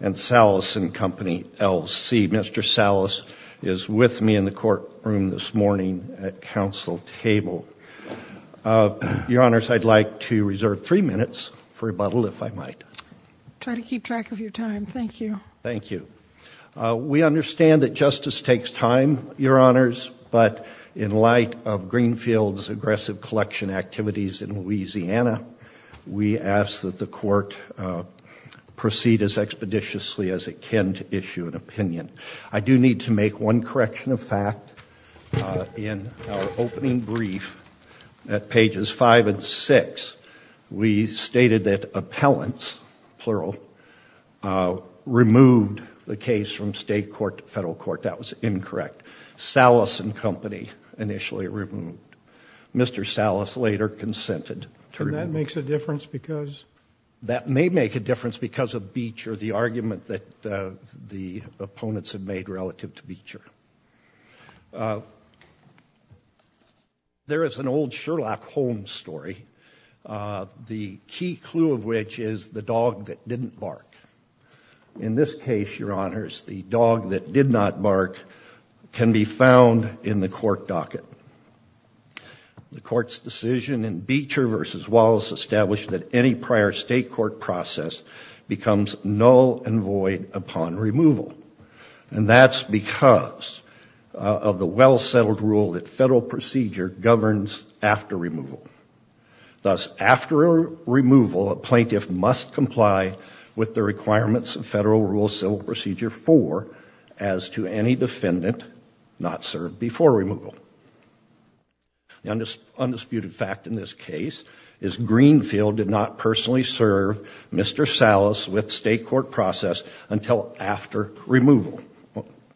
and Salas & Co. L.C. Mr. Salas is with me in the courtroom this morning at counsel table. Your Honors, I'd like to reserve three minutes for rebuttal, if I might. Try to keep track of your time. Thank you. Thank you. Your Honors, but in light of Greenfield's aggressive collection activities in Louisiana, we ask that the court proceed as expeditiously as it can to issue an opinion. I do need to make one correction of fact. In our opening brief at pages five and six, we stated that appellants, plural, removed the case from state court to federal court. That was incorrect. Salas & Co. initially removed. Mr. Salas later consented to remove. And that makes a difference because? That may make a difference because of Beecher, the argument that the opponents have made relative to Beecher. There is an old Sherlock Holmes story, the key clue of which is the dog that didn't bark. In this case, Your Honors, the dog that did not bark can be found in the court docket. The court's decision in Beecher v. Wallace established that any prior state court process becomes null and void upon removal. And that's because of the well-settled rule that federal procedure governs after removal. Thus, after removal, a plaintiff must comply with the requirements of Federal Rule Civil Procedure 4 as to any defendant not served before removal. The undisputed fact in this case is Greenfield did not personally serve Mr. Salas with state court process until after removal.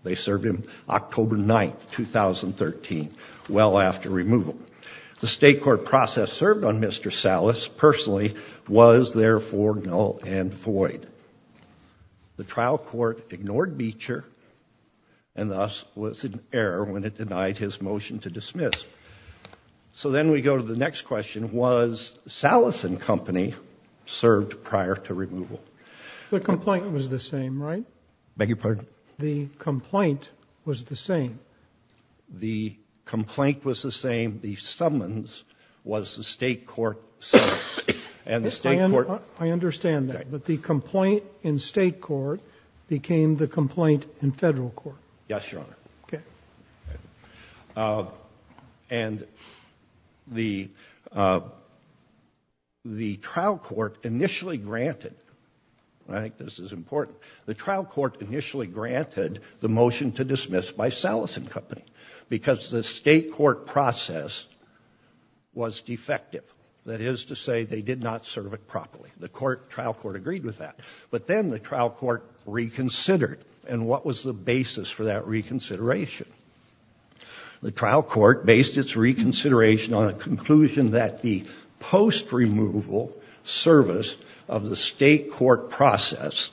They served him October 9, 2013, well after removal. The state court process served on Mr. Salas personally was therefore null and void. The trial court ignored Beecher and thus was in error when it denied his motion to dismiss. So then we go to the next question, was Salas and company served prior to removal? The complaint was the same, right? Beg your pardon? The complaint was the same. The complaint was the same. The summons was the state court summons. And the state court – I understand that. But the complaint in state court became the complaint in federal court. Yes, Your Honor. Okay. And the trial court initially granted – I think this is important – the trial court initially granted the motion to dismiss by Salas and company because the state court process was defective. That is to say they did not serve it properly. The trial court agreed with that. But then the trial court reconsidered. And what was the basis for that reconsideration? The trial court based its reconsideration on a conclusion that the post-removal service of the state court process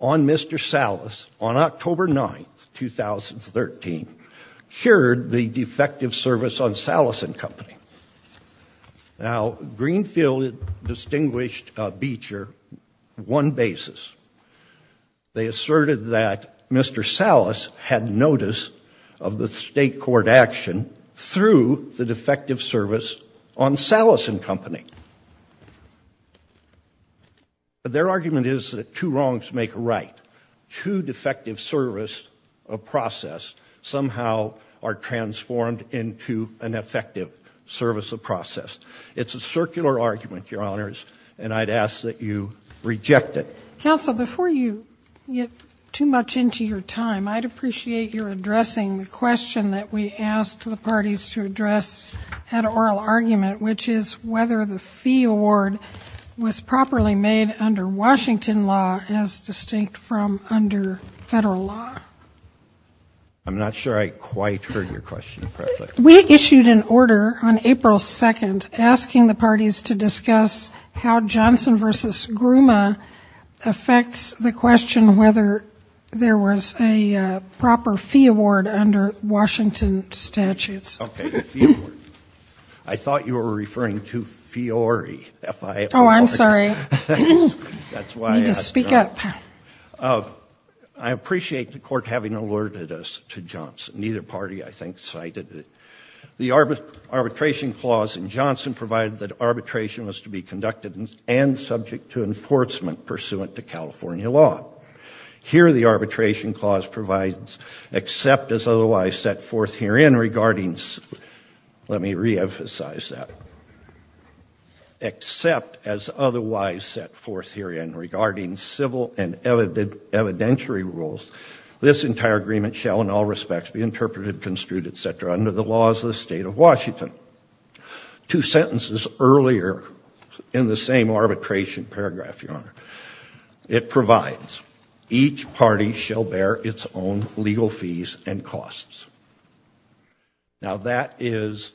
on Mr. Salas, on October 9, 2013, cured the defective service on Salas and company. Now, Greenfield distinguished Beecher on one basis. They asserted that Mr. Salas had notice of the state court action through the defective service on Salas and company. But their argument is that two wrongs make a right. Two defective service of process somehow are transformed into an effective service of process. It's a circular argument, Your Honors, and I'd ask that you reject it. Counsel, before you get too much into your time, I'd appreciate your addressing the question that we asked the parties to address at oral argument, which is whether the fee award was properly made under Washington law as distinct from under federal law. I'm not sure I quite heard your question, President. We issued an order on April 2nd asking the parties to discuss how Johnson v. Grumman affects the question whether there was a proper fee award under Washington statutes. Okay, the fee award. I thought you were referring to Fiore, F-I-O-R-E. Oh, I'm sorry. Need to speak up. I appreciate the court having alerted us to Johnson. Neither party, I think, cited it. The arbitration clause in Johnson provided that arbitration was to be conducted and subject to enforcement pursuant to California law. Here the arbitration clause provides except as otherwise set forth herein regarding, let me reemphasize that, except as otherwise set forth herein regarding civil and evidentiary rules, this entire agreement shall in all respects be interpreted, construed, et cetera, under the laws of the state of Washington. Two sentences earlier in the same arbitration paragraph, Your Honor, it provides each party shall bear its own legal fees and costs. Now that is,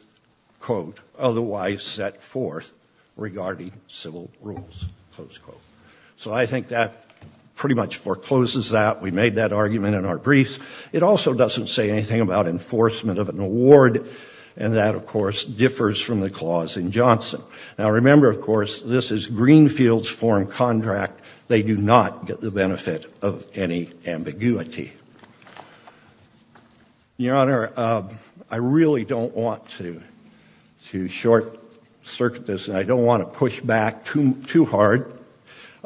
quote, otherwise set forth regarding civil rules, close quote. So I think that pretty much forecloses that. We made that argument in our briefs. It also doesn't say anything about enforcement of an award, and that, of course, differs from the clause in Johnson. Now remember, of course, this is Greenfield's foreign contract. They do not get the benefit of any ambiguity. Your Honor, I really don't want to short-circuit this, and I don't want to push back too hard.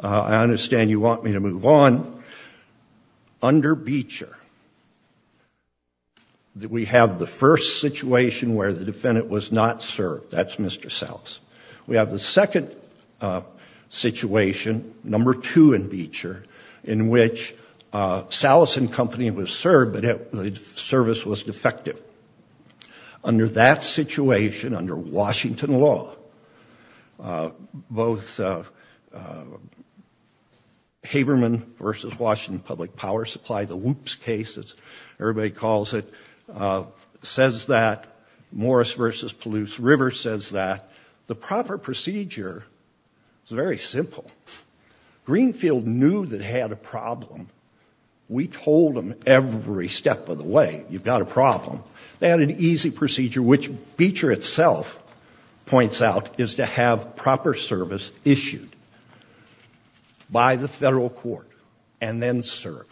I understand you want me to move on. Under Beecher, we have the first situation where the defendant was not served. That's Mr. Sallis. We have the second situation, number two in Beecher, in which Sallis and company was served, but the service was defective. Under that situation, under Washington law, both Haberman v. Washington Public Power Supply, the WHOOPS case, as everybody calls it, says that, Morris v. Palouse River says that, the proper procedure is very simple. Greenfield knew they had a problem. We told them every step of the way, you've got a problem. They had an easy procedure, which Beecher itself points out, is to have proper service issued by the federal court and then serve.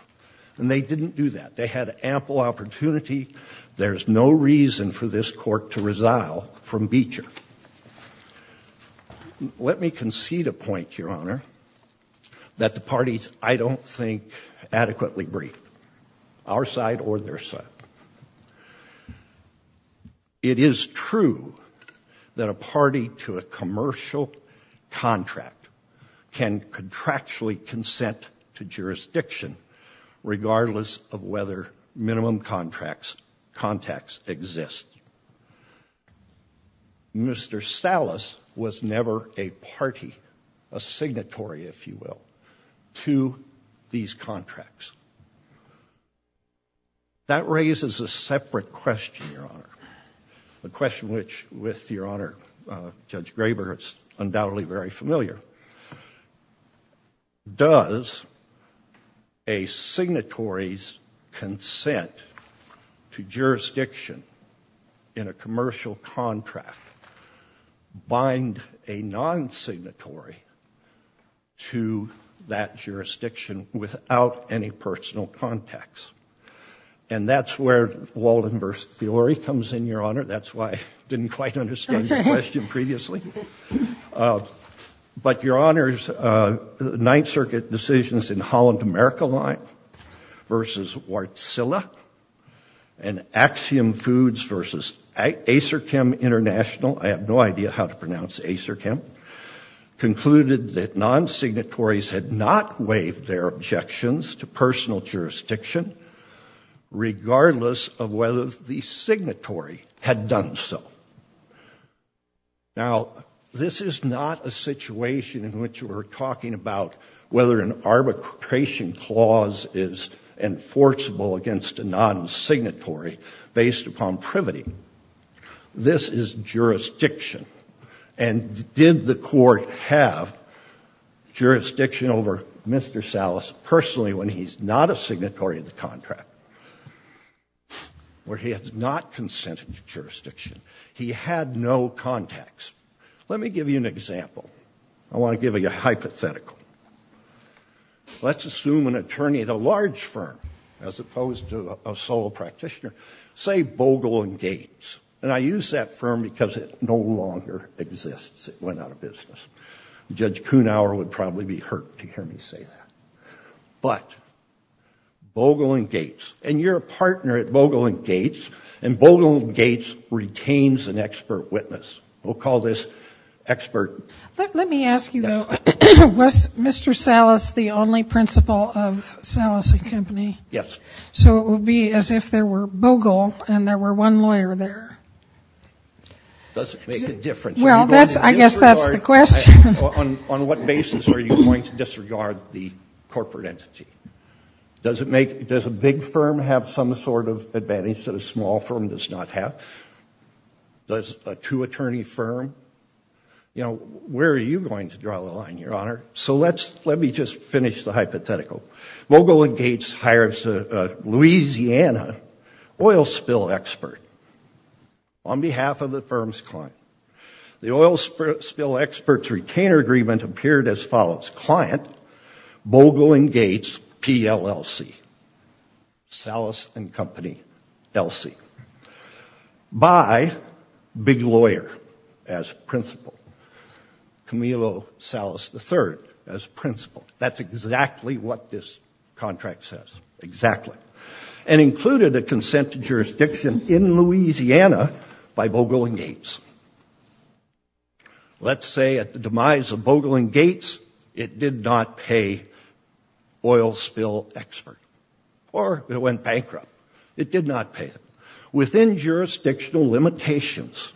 And they didn't do that. They had ample opportunity. There's no reason for this court to resile from Beecher. Let me concede a point, Your Honor, that the parties I don't think adequately brief, our side or their side. It is true that a party to a commercial contract can contractually consent to jurisdiction, regardless of whether minimum contacts exist. Mr. Sallis was never a party, a signatory, if you will, to these contracts. That raises a separate question, Your Honor, a question which, with Your Honor, Judge Graber, is undoubtedly very familiar. Does a signatory's consent to jurisdiction in a commercial contract bind a non-signatory to that jurisdiction without any personal contacts? And that's where Walden v. Thorey comes in, Your Honor. That's why I didn't quite understand your question previously. But, Your Honors, Ninth Circuit decisions in Holland America Line versus Wärtsilä and Axiom Foods versus Acerchem International, I have no idea how to pronounce Acerchem, concluded that non-signatories had not waived their objections to personal jurisdiction, regardless of whether the signatory had done so. Now, this is not a situation in which we're talking about whether an arbitration clause is enforceable against a non-signatory based upon privity. This is jurisdiction. And did the court have jurisdiction over Mr. Sallis personally when he's not a signatory of the contract? Where he has not consented to jurisdiction. He had no contacts. Let me give you an example. I want to give you a hypothetical. Let's assume an attorney at a large firm, as opposed to a solo practitioner, say Bogle & Gates. And I use that firm because it no longer exists. It went out of business. Judge Kuhnhauer would probably be hurt to hear me say that. But, Bogle & Gates, and you're a partner at Bogle & Gates, and Bogle & Gates retains an expert witness. We'll call this expert. Let me ask you, though. Was Mr. Sallis the only principal of Sallis & Company? Yes. So it would be as if there were Bogle and there were one lawyer there. Does it make a difference? Well, I guess that's the question. On what basis are you going to disregard the corporate entity? Does a big firm have some sort of advantage that a small firm does not have? Does a two-attorney firm? You know, where are you going to draw the line, Your Honor? So let me just finish the hypothetical. Bogle & Gates hires a Louisiana oil spill expert on behalf of the firm's client. The oil spill expert's retainer agreement appeared as follows. Client, Bogle & Gates, PLLC. Sallis & Company, LC. By big lawyer as principal, Camilo Sallis III as principal. That's exactly what this contract says. Exactly. And included a consent to jurisdiction in Louisiana by Bogle & Gates. Let's say at the demise of Bogle & Gates, it did not pay oil spill expert. Or it went bankrupt. It did not pay them. Within jurisdictional limitations,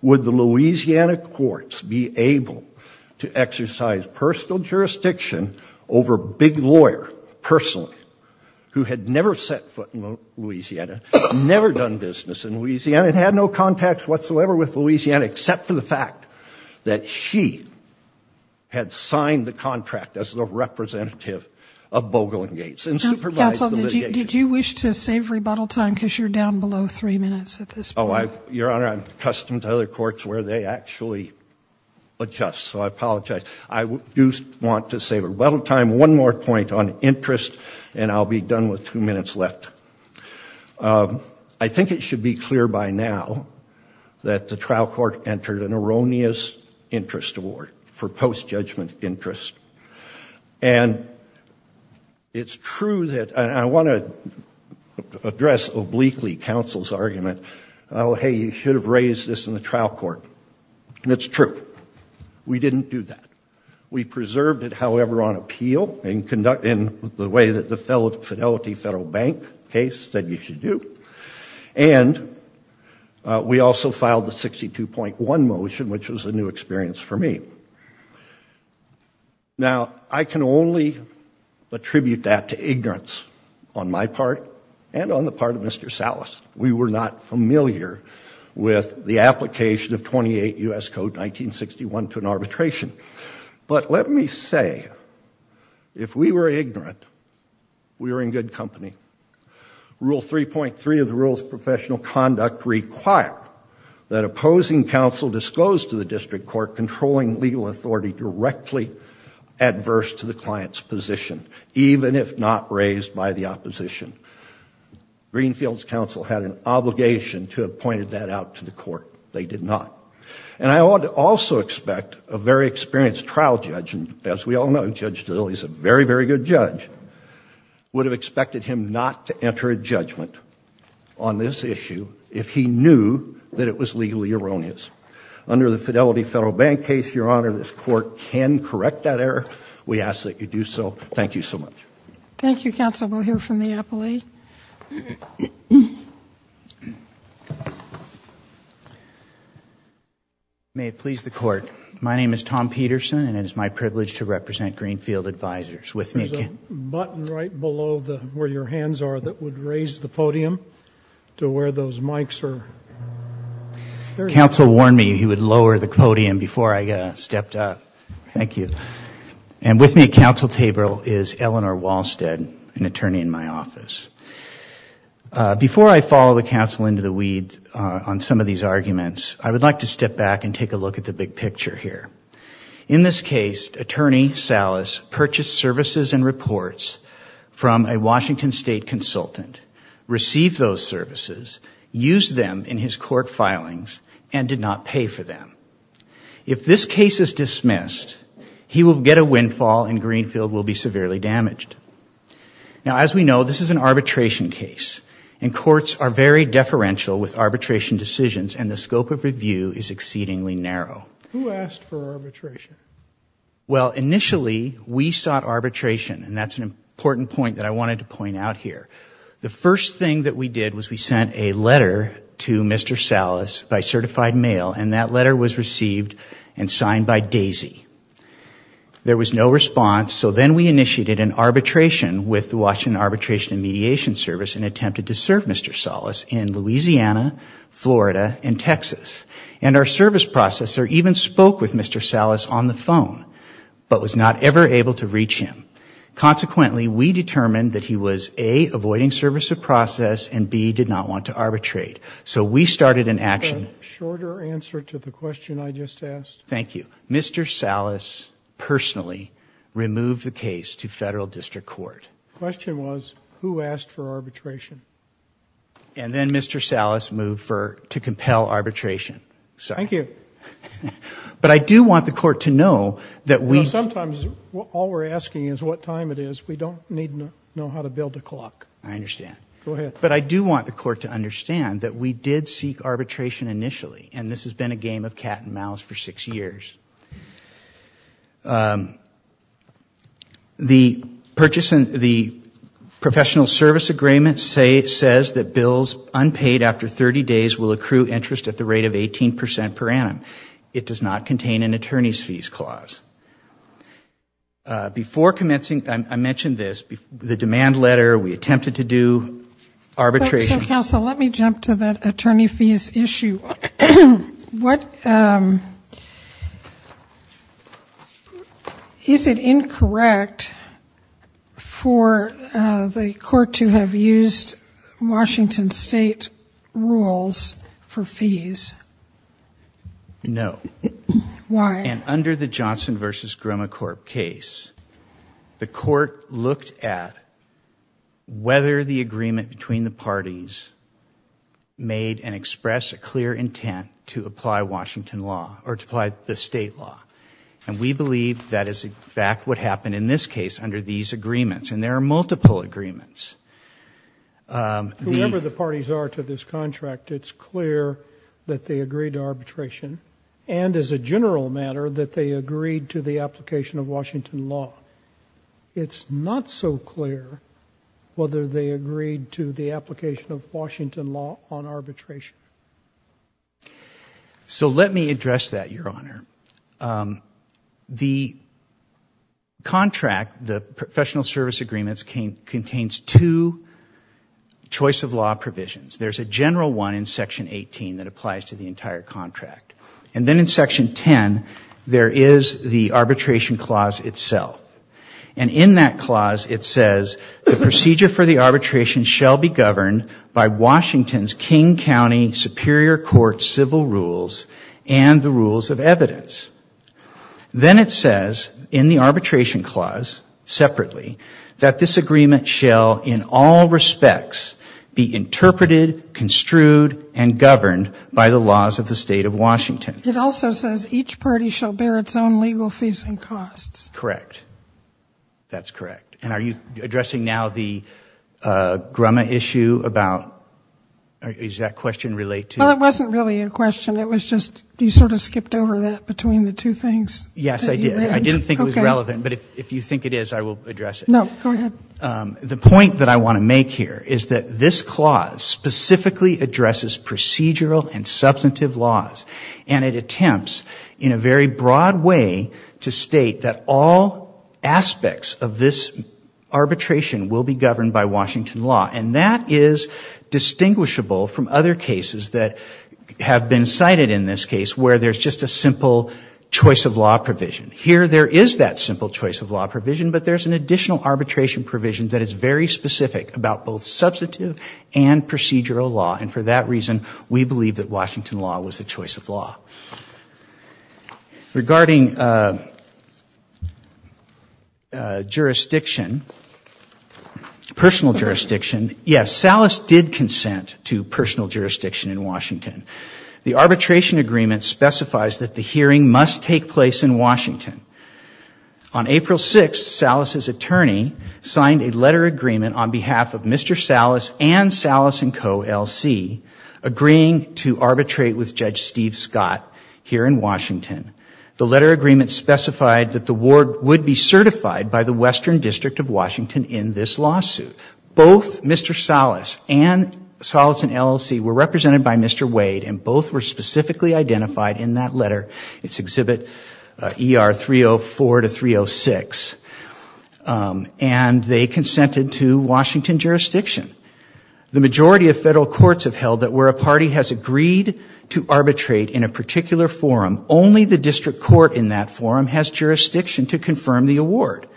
would the Louisiana courts be able to exercise personal jurisdiction over big lawyer, personally, who had never set foot in Louisiana, never done business in Louisiana, and had no contacts whatsoever with Louisiana, except for the fact that she had signed the contract as the representative of Bogle & Gates and supervised the litigation. Counsel, did you wish to save rebuttal time because you're down below three minutes at this point? Oh, Your Honor, I'm accustomed to other courts where they actually adjust, so I apologize. I do want to save rebuttal time. One more point on interest, and I'll be done with two minutes left. I think it should be clear by now that the trial court entered an erroneous interest award for post-judgment interest. And it's true that, and I want to address obliquely counsel's argument, oh, hey, you should have raised this in the trial court. And it's true. We didn't do that. We preserved it, however, on appeal in the way that the Fidelity Federal Bank case said you should do. And we also filed the 62.1 motion, which was a new experience for me. Now, I can only attribute that to ignorance on my part and on the part of Mr. Salas. We were not familiar with the application of 28 U.S. Code 1961 to an arbitration. But let me say, if we were ignorant, we were in good company. Rule 3.3 of the Rules of Professional Conduct required that opposing counsel disclose to the district court that they were controlling legal authority directly adverse to the client's position, even if not raised by the opposition. Greenfield's counsel had an obligation to have pointed that out to the court. They did not. And I ought to also expect a very experienced trial judge, and as we all know, Judge Dill, he's a very, very good judge, would have expected him not to enter a judgment on this issue if he knew that it was legally erroneous. Under the Fidelity Federal Bank case, Your Honor, this court can correct that error. We ask that you do so. Thank you so much. Thank you, counsel. We'll hear from the appellee. May it please the court. My name is Tom Peterson, and it is my privilege to represent Greenfield Advisors. With me again. There's a button right below where your hands are that would raise the podium to where those mics are. Counsel warned me he would lower the podium before I stepped up. Thank you. And with me at counsel table is Eleanor Walsted, an attorney in my office. Before I follow the counsel into the weed on some of these arguments, I would like to step back and take a look at the big picture here. In this case, Attorney Salas purchased services and reports from a Washington State consultant, received those services, used them in his court filings, and did not pay for them. If this case is dismissed, he will get a windfall and Greenfield will be severely damaged. Now, as we know, this is an arbitration case, and courts are very deferential with arbitration decisions and the scope of review is exceedingly narrow. Who asked for arbitration? Well, initially, we sought arbitration, and that's an important point that I wanted to point out here. The first thing that we did was we sent a letter to Mr. Salas by certified mail, and that letter was received and signed by Daisy. There was no response, so then we initiated an arbitration with the Washington Arbitration and Mediation Service and attempted to serve Mr. Salas in Louisiana, Florida, and Texas. And our service processor even spoke with Mr. Salas on the phone, but was not ever able to reach him. Consequently, we determined that he was, A, avoiding service of process, and B, did not want to arbitrate. So we started an action. A shorter answer to the question I just asked. Thank you. Mr. Salas personally removed the case to federal district court. The question was, who asked for arbitration? And then Mr. Salas moved to compel arbitration. Thank you. But I do want the court to know that we... Sometimes all we're asking is what time it is. We don't need to know how to build a clock. I understand. Go ahead. But I do want the court to understand that we did seek arbitration initially, and this has been a game of cat and mouse for six years. The professional service agreement says that bills unpaid after 30 days will accrue interest at the rate of 18 percent per annum. It does not contain an attorney's fees clause. Before commencing, I mentioned this, the demand letter, we attempted to do arbitration. So, counsel, let me jump to that attorney fees issue. What... Is it incorrect for the court to have used Washington State rules for fees? No. Why? And under the Johnson v. Grimacorp case, the court looked at whether the agreement between the parties made and expressed a clear intent to apply Washington law or to apply the state law. And we believe that is, in fact, what happened in this case under these agreements. And there are multiple agreements. Whoever the parties are to this contract, it's clear that they agreed to arbitration. And as a general matter, that they agreed to the application of Washington law. It's not so clear whether they agreed to the application of Washington law on arbitration. So let me address that, Your Honor. The contract, the professional service agreements, contains two choice of law provisions. There's a general one in Section 18 that applies to the entire contract. And then in Section 10, there is the arbitration clause itself. And in that clause, it says, the procedure for the arbitration shall be governed by Washington's King County Superior Court civil rules and the rules of evidence. Then it says, in the arbitration clause, separately, that this agreement shall, in all respects, be interpreted, construed, and governed by the laws of the state of Washington. It also says each party shall bear its own legal fees and costs. Correct. That's correct. And are you addressing now the Grumman issue about, does that question relate to? Well, it wasn't really a question. It was just you sort of skipped over that between the two things. Yes, I did. I didn't think it was relevant. But if you think it is, I will address it. No, go ahead. The point that I want to make here is that this clause specifically addresses procedural and substantive laws. And it attempts, in a very broad way, to state that all aspects of this arbitration will be governed by Washington law. And that is distinguishable from other cases that have been cited in this case, where there's just a simple choice of law provision. Here, there is that simple choice of law provision, but there's an additional arbitration provision that is very specific about both substantive and procedural law. And for that reason, we believe that Washington law was the choice of law. Regarding jurisdiction, personal jurisdiction, yes, Salas did consent to personal jurisdiction in Washington. The arbitration agreement specifies that the hearing must take place in Washington. On April 6th, Salas' attorney signed a letter agreement on behalf of Mr. Salas and Salas & Co. L.C. agreeing to arbitrate with Judge Steve Scott here in Washington. The letter agreement specified that the ward would be certified by the Western District of Washington in this lawsuit. Both Mr. Salas and Salas & LLC were represented by Mr. Wade, and both were specifically identified in that letter. It's Exhibit ER 304 to 306. And they consented to Washington jurisdiction. The majority of federal courts have held that where a party has agreed to arbitrate in a particular forum, only the district court in that forum has jurisdiction to confirm the award.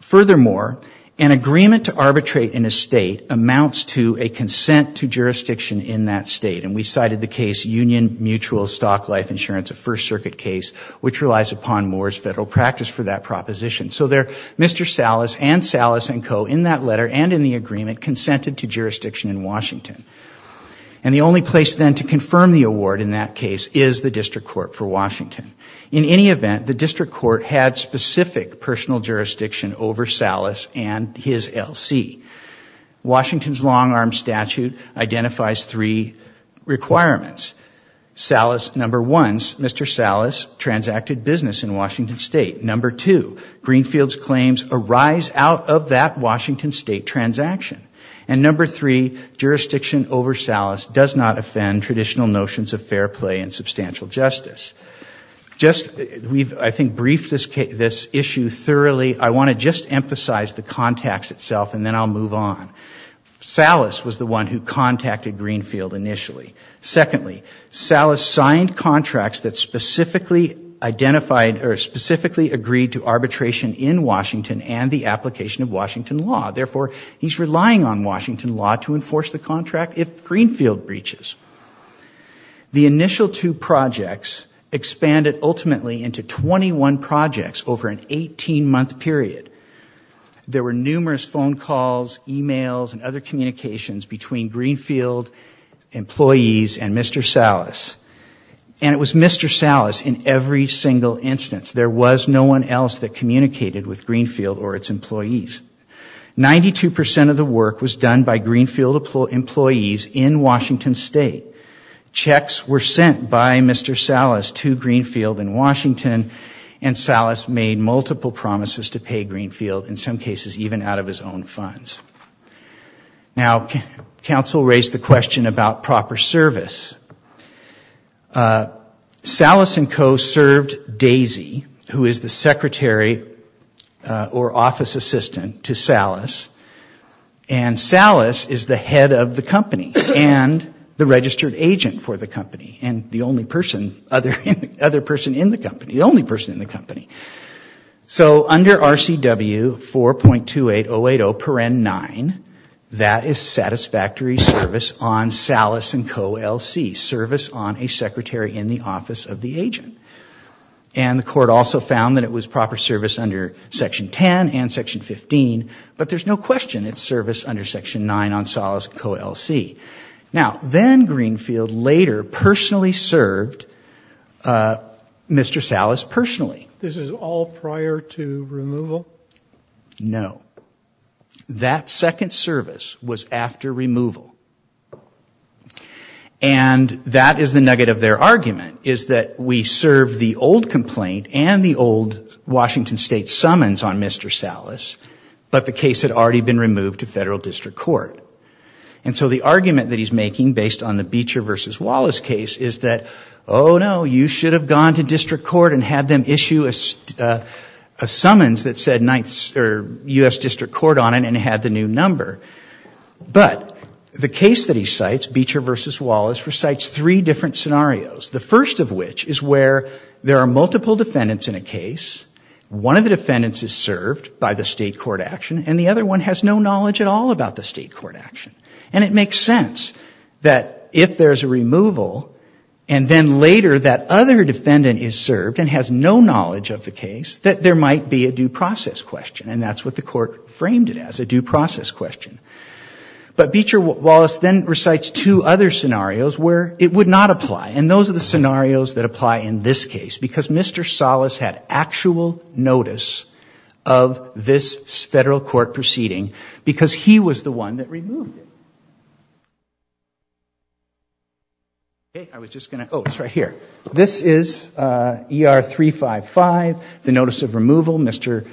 Furthermore, an agreement to arbitrate in a state amounts to a consent to jurisdiction in that state. And we cited the case Union Mutual Stock Life Insurance, a First Circuit case, which relies upon Moore's federal practice for that proposition. So there, Mr. Salas and Salas & Co. in that letter and in the agreement consented to jurisdiction in Washington. And the only place then to confirm the award in that case is the district court for Washington. In any event, the district court had specific personal jurisdiction over Salas and his LLC. Washington's long-arm statute identifies three requirements. Salas, number one, Mr. Salas transacted business in Washington State. Number two, Greenfield's claims arise out of that Washington State transaction. And number three, jurisdiction over Salas does not offend traditional notions of fair play and substantial justice. Just, we've, I think, briefed this issue thoroughly. I want to just emphasize the contacts itself and then I'll move on. Salas was the one who contacted Greenfield initially. Secondly, Salas signed contracts that specifically identified or specifically agreed to arbitration in Washington and the application of Washington law. Therefore, he's relying on Washington law to enforce the contract if Greenfield breaches. The initial two projects expanded ultimately into 21 projects over an 18-month period. There were numerous phone calls, e-mails, and other communications between Greenfield employees and Mr. Salas. And it was Mr. Salas in every single instance. There was no one else that communicated with Greenfield or its employees. 92% of the work was done by Greenfield employees in Washington State. Checks were sent by Mr. Salas to Greenfield in Washington and Salas made multiple promises to pay Greenfield, in some cases even out of his own funds. Now, counsel raised the question about proper service. Salas and Co. served Daisy, who is the secretary or office assistant to Salas, and Salas is the head of the company and the registered agent for the company and the only person in the company. So under RCW 4.28080.9, that is satisfactory service on Salas and Co. L.C., service on a secretary in the office of the agent. And the court also found that it was proper service under Section 10 and Section 15, but there's no question it's service under Section 9 on Salas and Co. L.C. Now, then Greenfield later personally served Mr. Salas personally. This is all prior to removal? No. That second service was after removal. And that is the nugget of their argument, is that we serve the old complaint and the old Washington State summons on Mr. Salas, but the case had already been removed to federal district court. And so the argument that he's making based on the Beecher v. Wallace case is that, oh no, you should have gone to district court and had them issue a summons that said U.S. district court on it and had the new number. But the case that he cites, Beecher v. Wallace, recites three different scenarios, the first of which is where there are multiple defendants in a case, one of the defendants is served by the state court action, and the other one has no knowledge at all about the state court action. And it makes sense that if there's a removal, and then later that other defendant is served and has no knowledge of the case, that there might be a due process question. And that's what the court framed it as, a due process question. But Beecher v. Wallace then recites two other scenarios where it would not apply. And those are the scenarios that apply in this case, because Mr. Salas had actual notice of this federal court proceeding, because he was the one that removed it. I was just going to, oh, it's right here. This is ER 355, the notice of removal. Mr.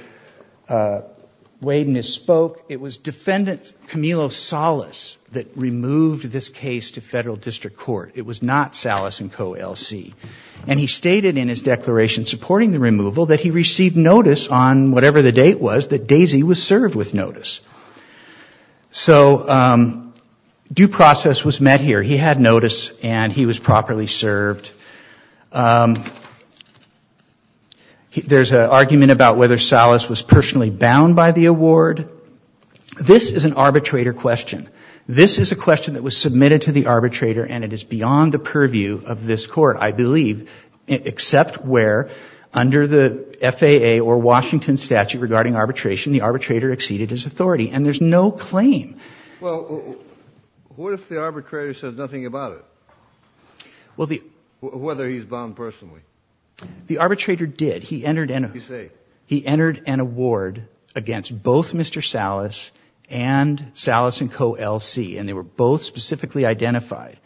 Wade misspoke. It was defendant Camillo Salas that removed this case to federal district court. It was not Salas and Co. L.C. And he stated in his declaration supporting the removal that he received notice, on whatever the date was, that Daisy was served with notice. So due process was met here. He had notice, and he was properly served. There's an argument about whether Salas was personally bound by the award. This is an arbitrator question. This is a question that was submitted to the arbitrator, and it is beyond the purview of this Court, I believe, except where under the FAA or Washington statute regarding arbitration, the arbitrator exceeded his authority. And there's no claim. Well, what if the arbitrator says nothing about it, whether he's bound personally? The arbitrator did. What did he say? He entered an award against both Mr. Salas and Salas and Co. L.C., and they were both specifically identified.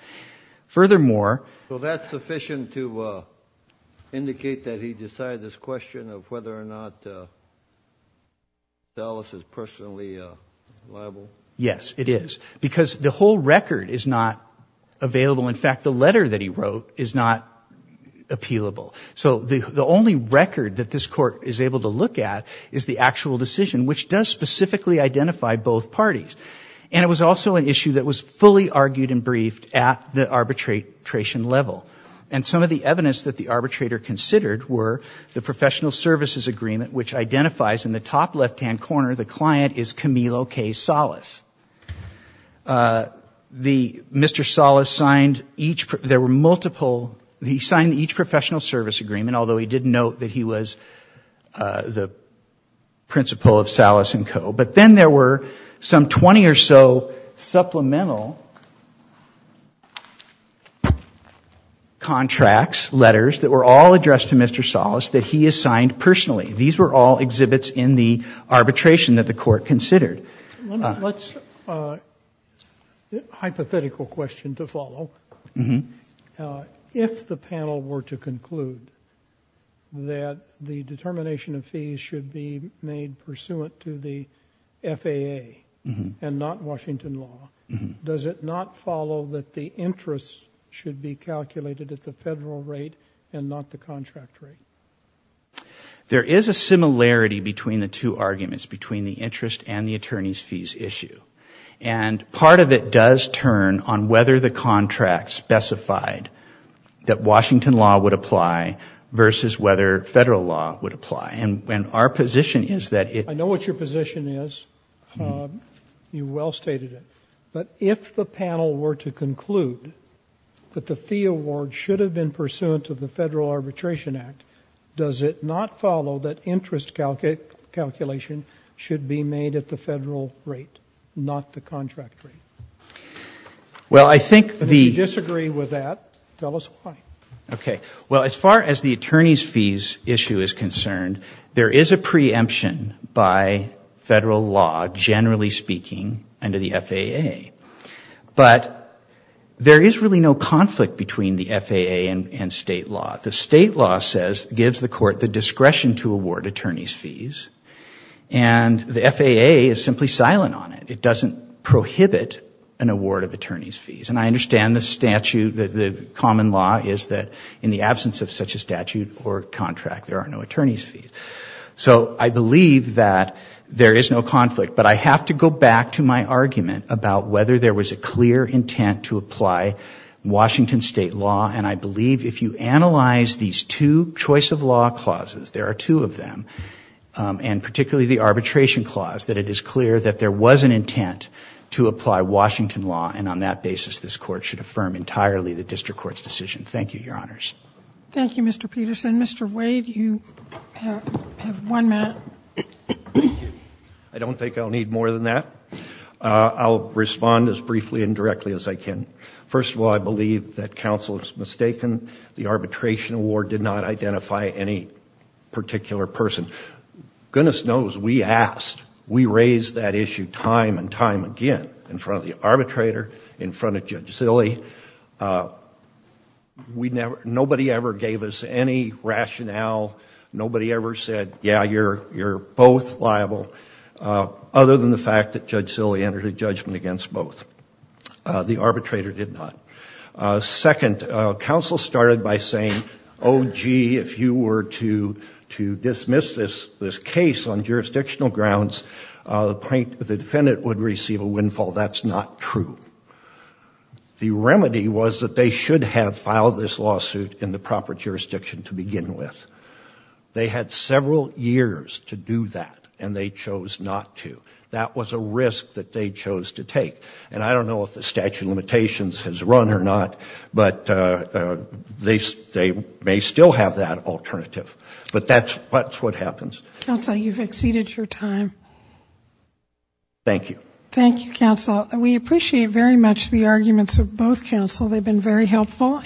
Furthermore ---- So that's sufficient to indicate that he decided this question of whether or not Salas is personally liable? Yes, it is. Because the whole record is not available. In fact, the letter that he wrote is not appealable. So the only record that this Court is able to look at is the actual decision, which does specifically identify both parties. And it was also an issue that was fully argued and briefed at the arbitration level. And some of the evidence that the arbitrator considered were the professional services agreement, which identifies in the top left-hand corner, the client is Camilo K. Salas. Mr. Salas signed each professional service agreement, although he did note that he was the principal of Salas and Co. But then there were some 20 or so supplemental contracts, letters that were all addressed to Mr. Salas that he assigned personally. These were all exhibits in the arbitration that the Court considered. One hypothetical question to follow. If the panel were to conclude that the determination of fees should be made pursuant to the FAA and not Washington law, does it not follow that the interest should be calculated at the federal rate and not the contract rate? There is a similarity between the two arguments, between the interest and the attorney's fees issue. And part of it does turn on whether the contract specified that Washington law would apply versus whether federal law would apply. And our position is that it... I know what your position is. You well stated it. But if the panel were to conclude that the fee award should have been pursuant to the Federal Arbitration Act, does it not follow that interest calculation should be made at the federal rate, not the contract rate? If you disagree with that, tell us why. Okay. Well, as far as the attorney's fees issue is concerned, there is a preemption by federal law, generally speaking, under the FAA. But there is really no conflict between the FAA and state law. The state law says, gives the court the discretion to award attorney's fees. And the FAA is simply silent on it. It doesn't prohibit an award of attorney's fees. And I understand the statute, the common law, is that in the absence of such a statute or contract, there are no attorney's fees. So I believe that there is no conflict. But I have to go back to my argument about whether there was a clear intent to apply Washington state law. And I believe if you analyze these two choice of law clauses, there are two of them, and particularly the arbitration clause, that it is clear that there was an intent to apply Washington law. And on that basis, this court should affirm entirely the district court's decision. Thank you, Your Honors. Thank you, Mr. Peterson. Mr. Wade, you have one minute. I don't think I'll need more than that. I'll respond as briefly and directly as I can. First of all, I believe that counsel is mistaken. The arbitration award did not identify any particular person. Goodness knows we asked. We raised that issue time and time again in front of the arbitrator, in front of Judge Zille. Nobody ever gave us any rationale. Nobody ever said, yeah, you're both liable, other than the fact that Judge Zille entered a judgment against both. The arbitrator did not. Second, counsel started by saying, oh, gee, if you were to dismiss this case on jurisdictional grounds, the defendant would receive a windfall. That's not true. The remedy was that they should have filed this lawsuit in the proper jurisdiction to begin with. They had several years to do that, and they chose not to. That was a risk that they chose to take. And I don't know if the statute of limitations has run or not, but they may still have that alternative. But that's what happens. Counsel, you've exceeded your time. Thank you. Thank you, counsel. We appreciate very much the arguments of both counsel. They've been very helpful.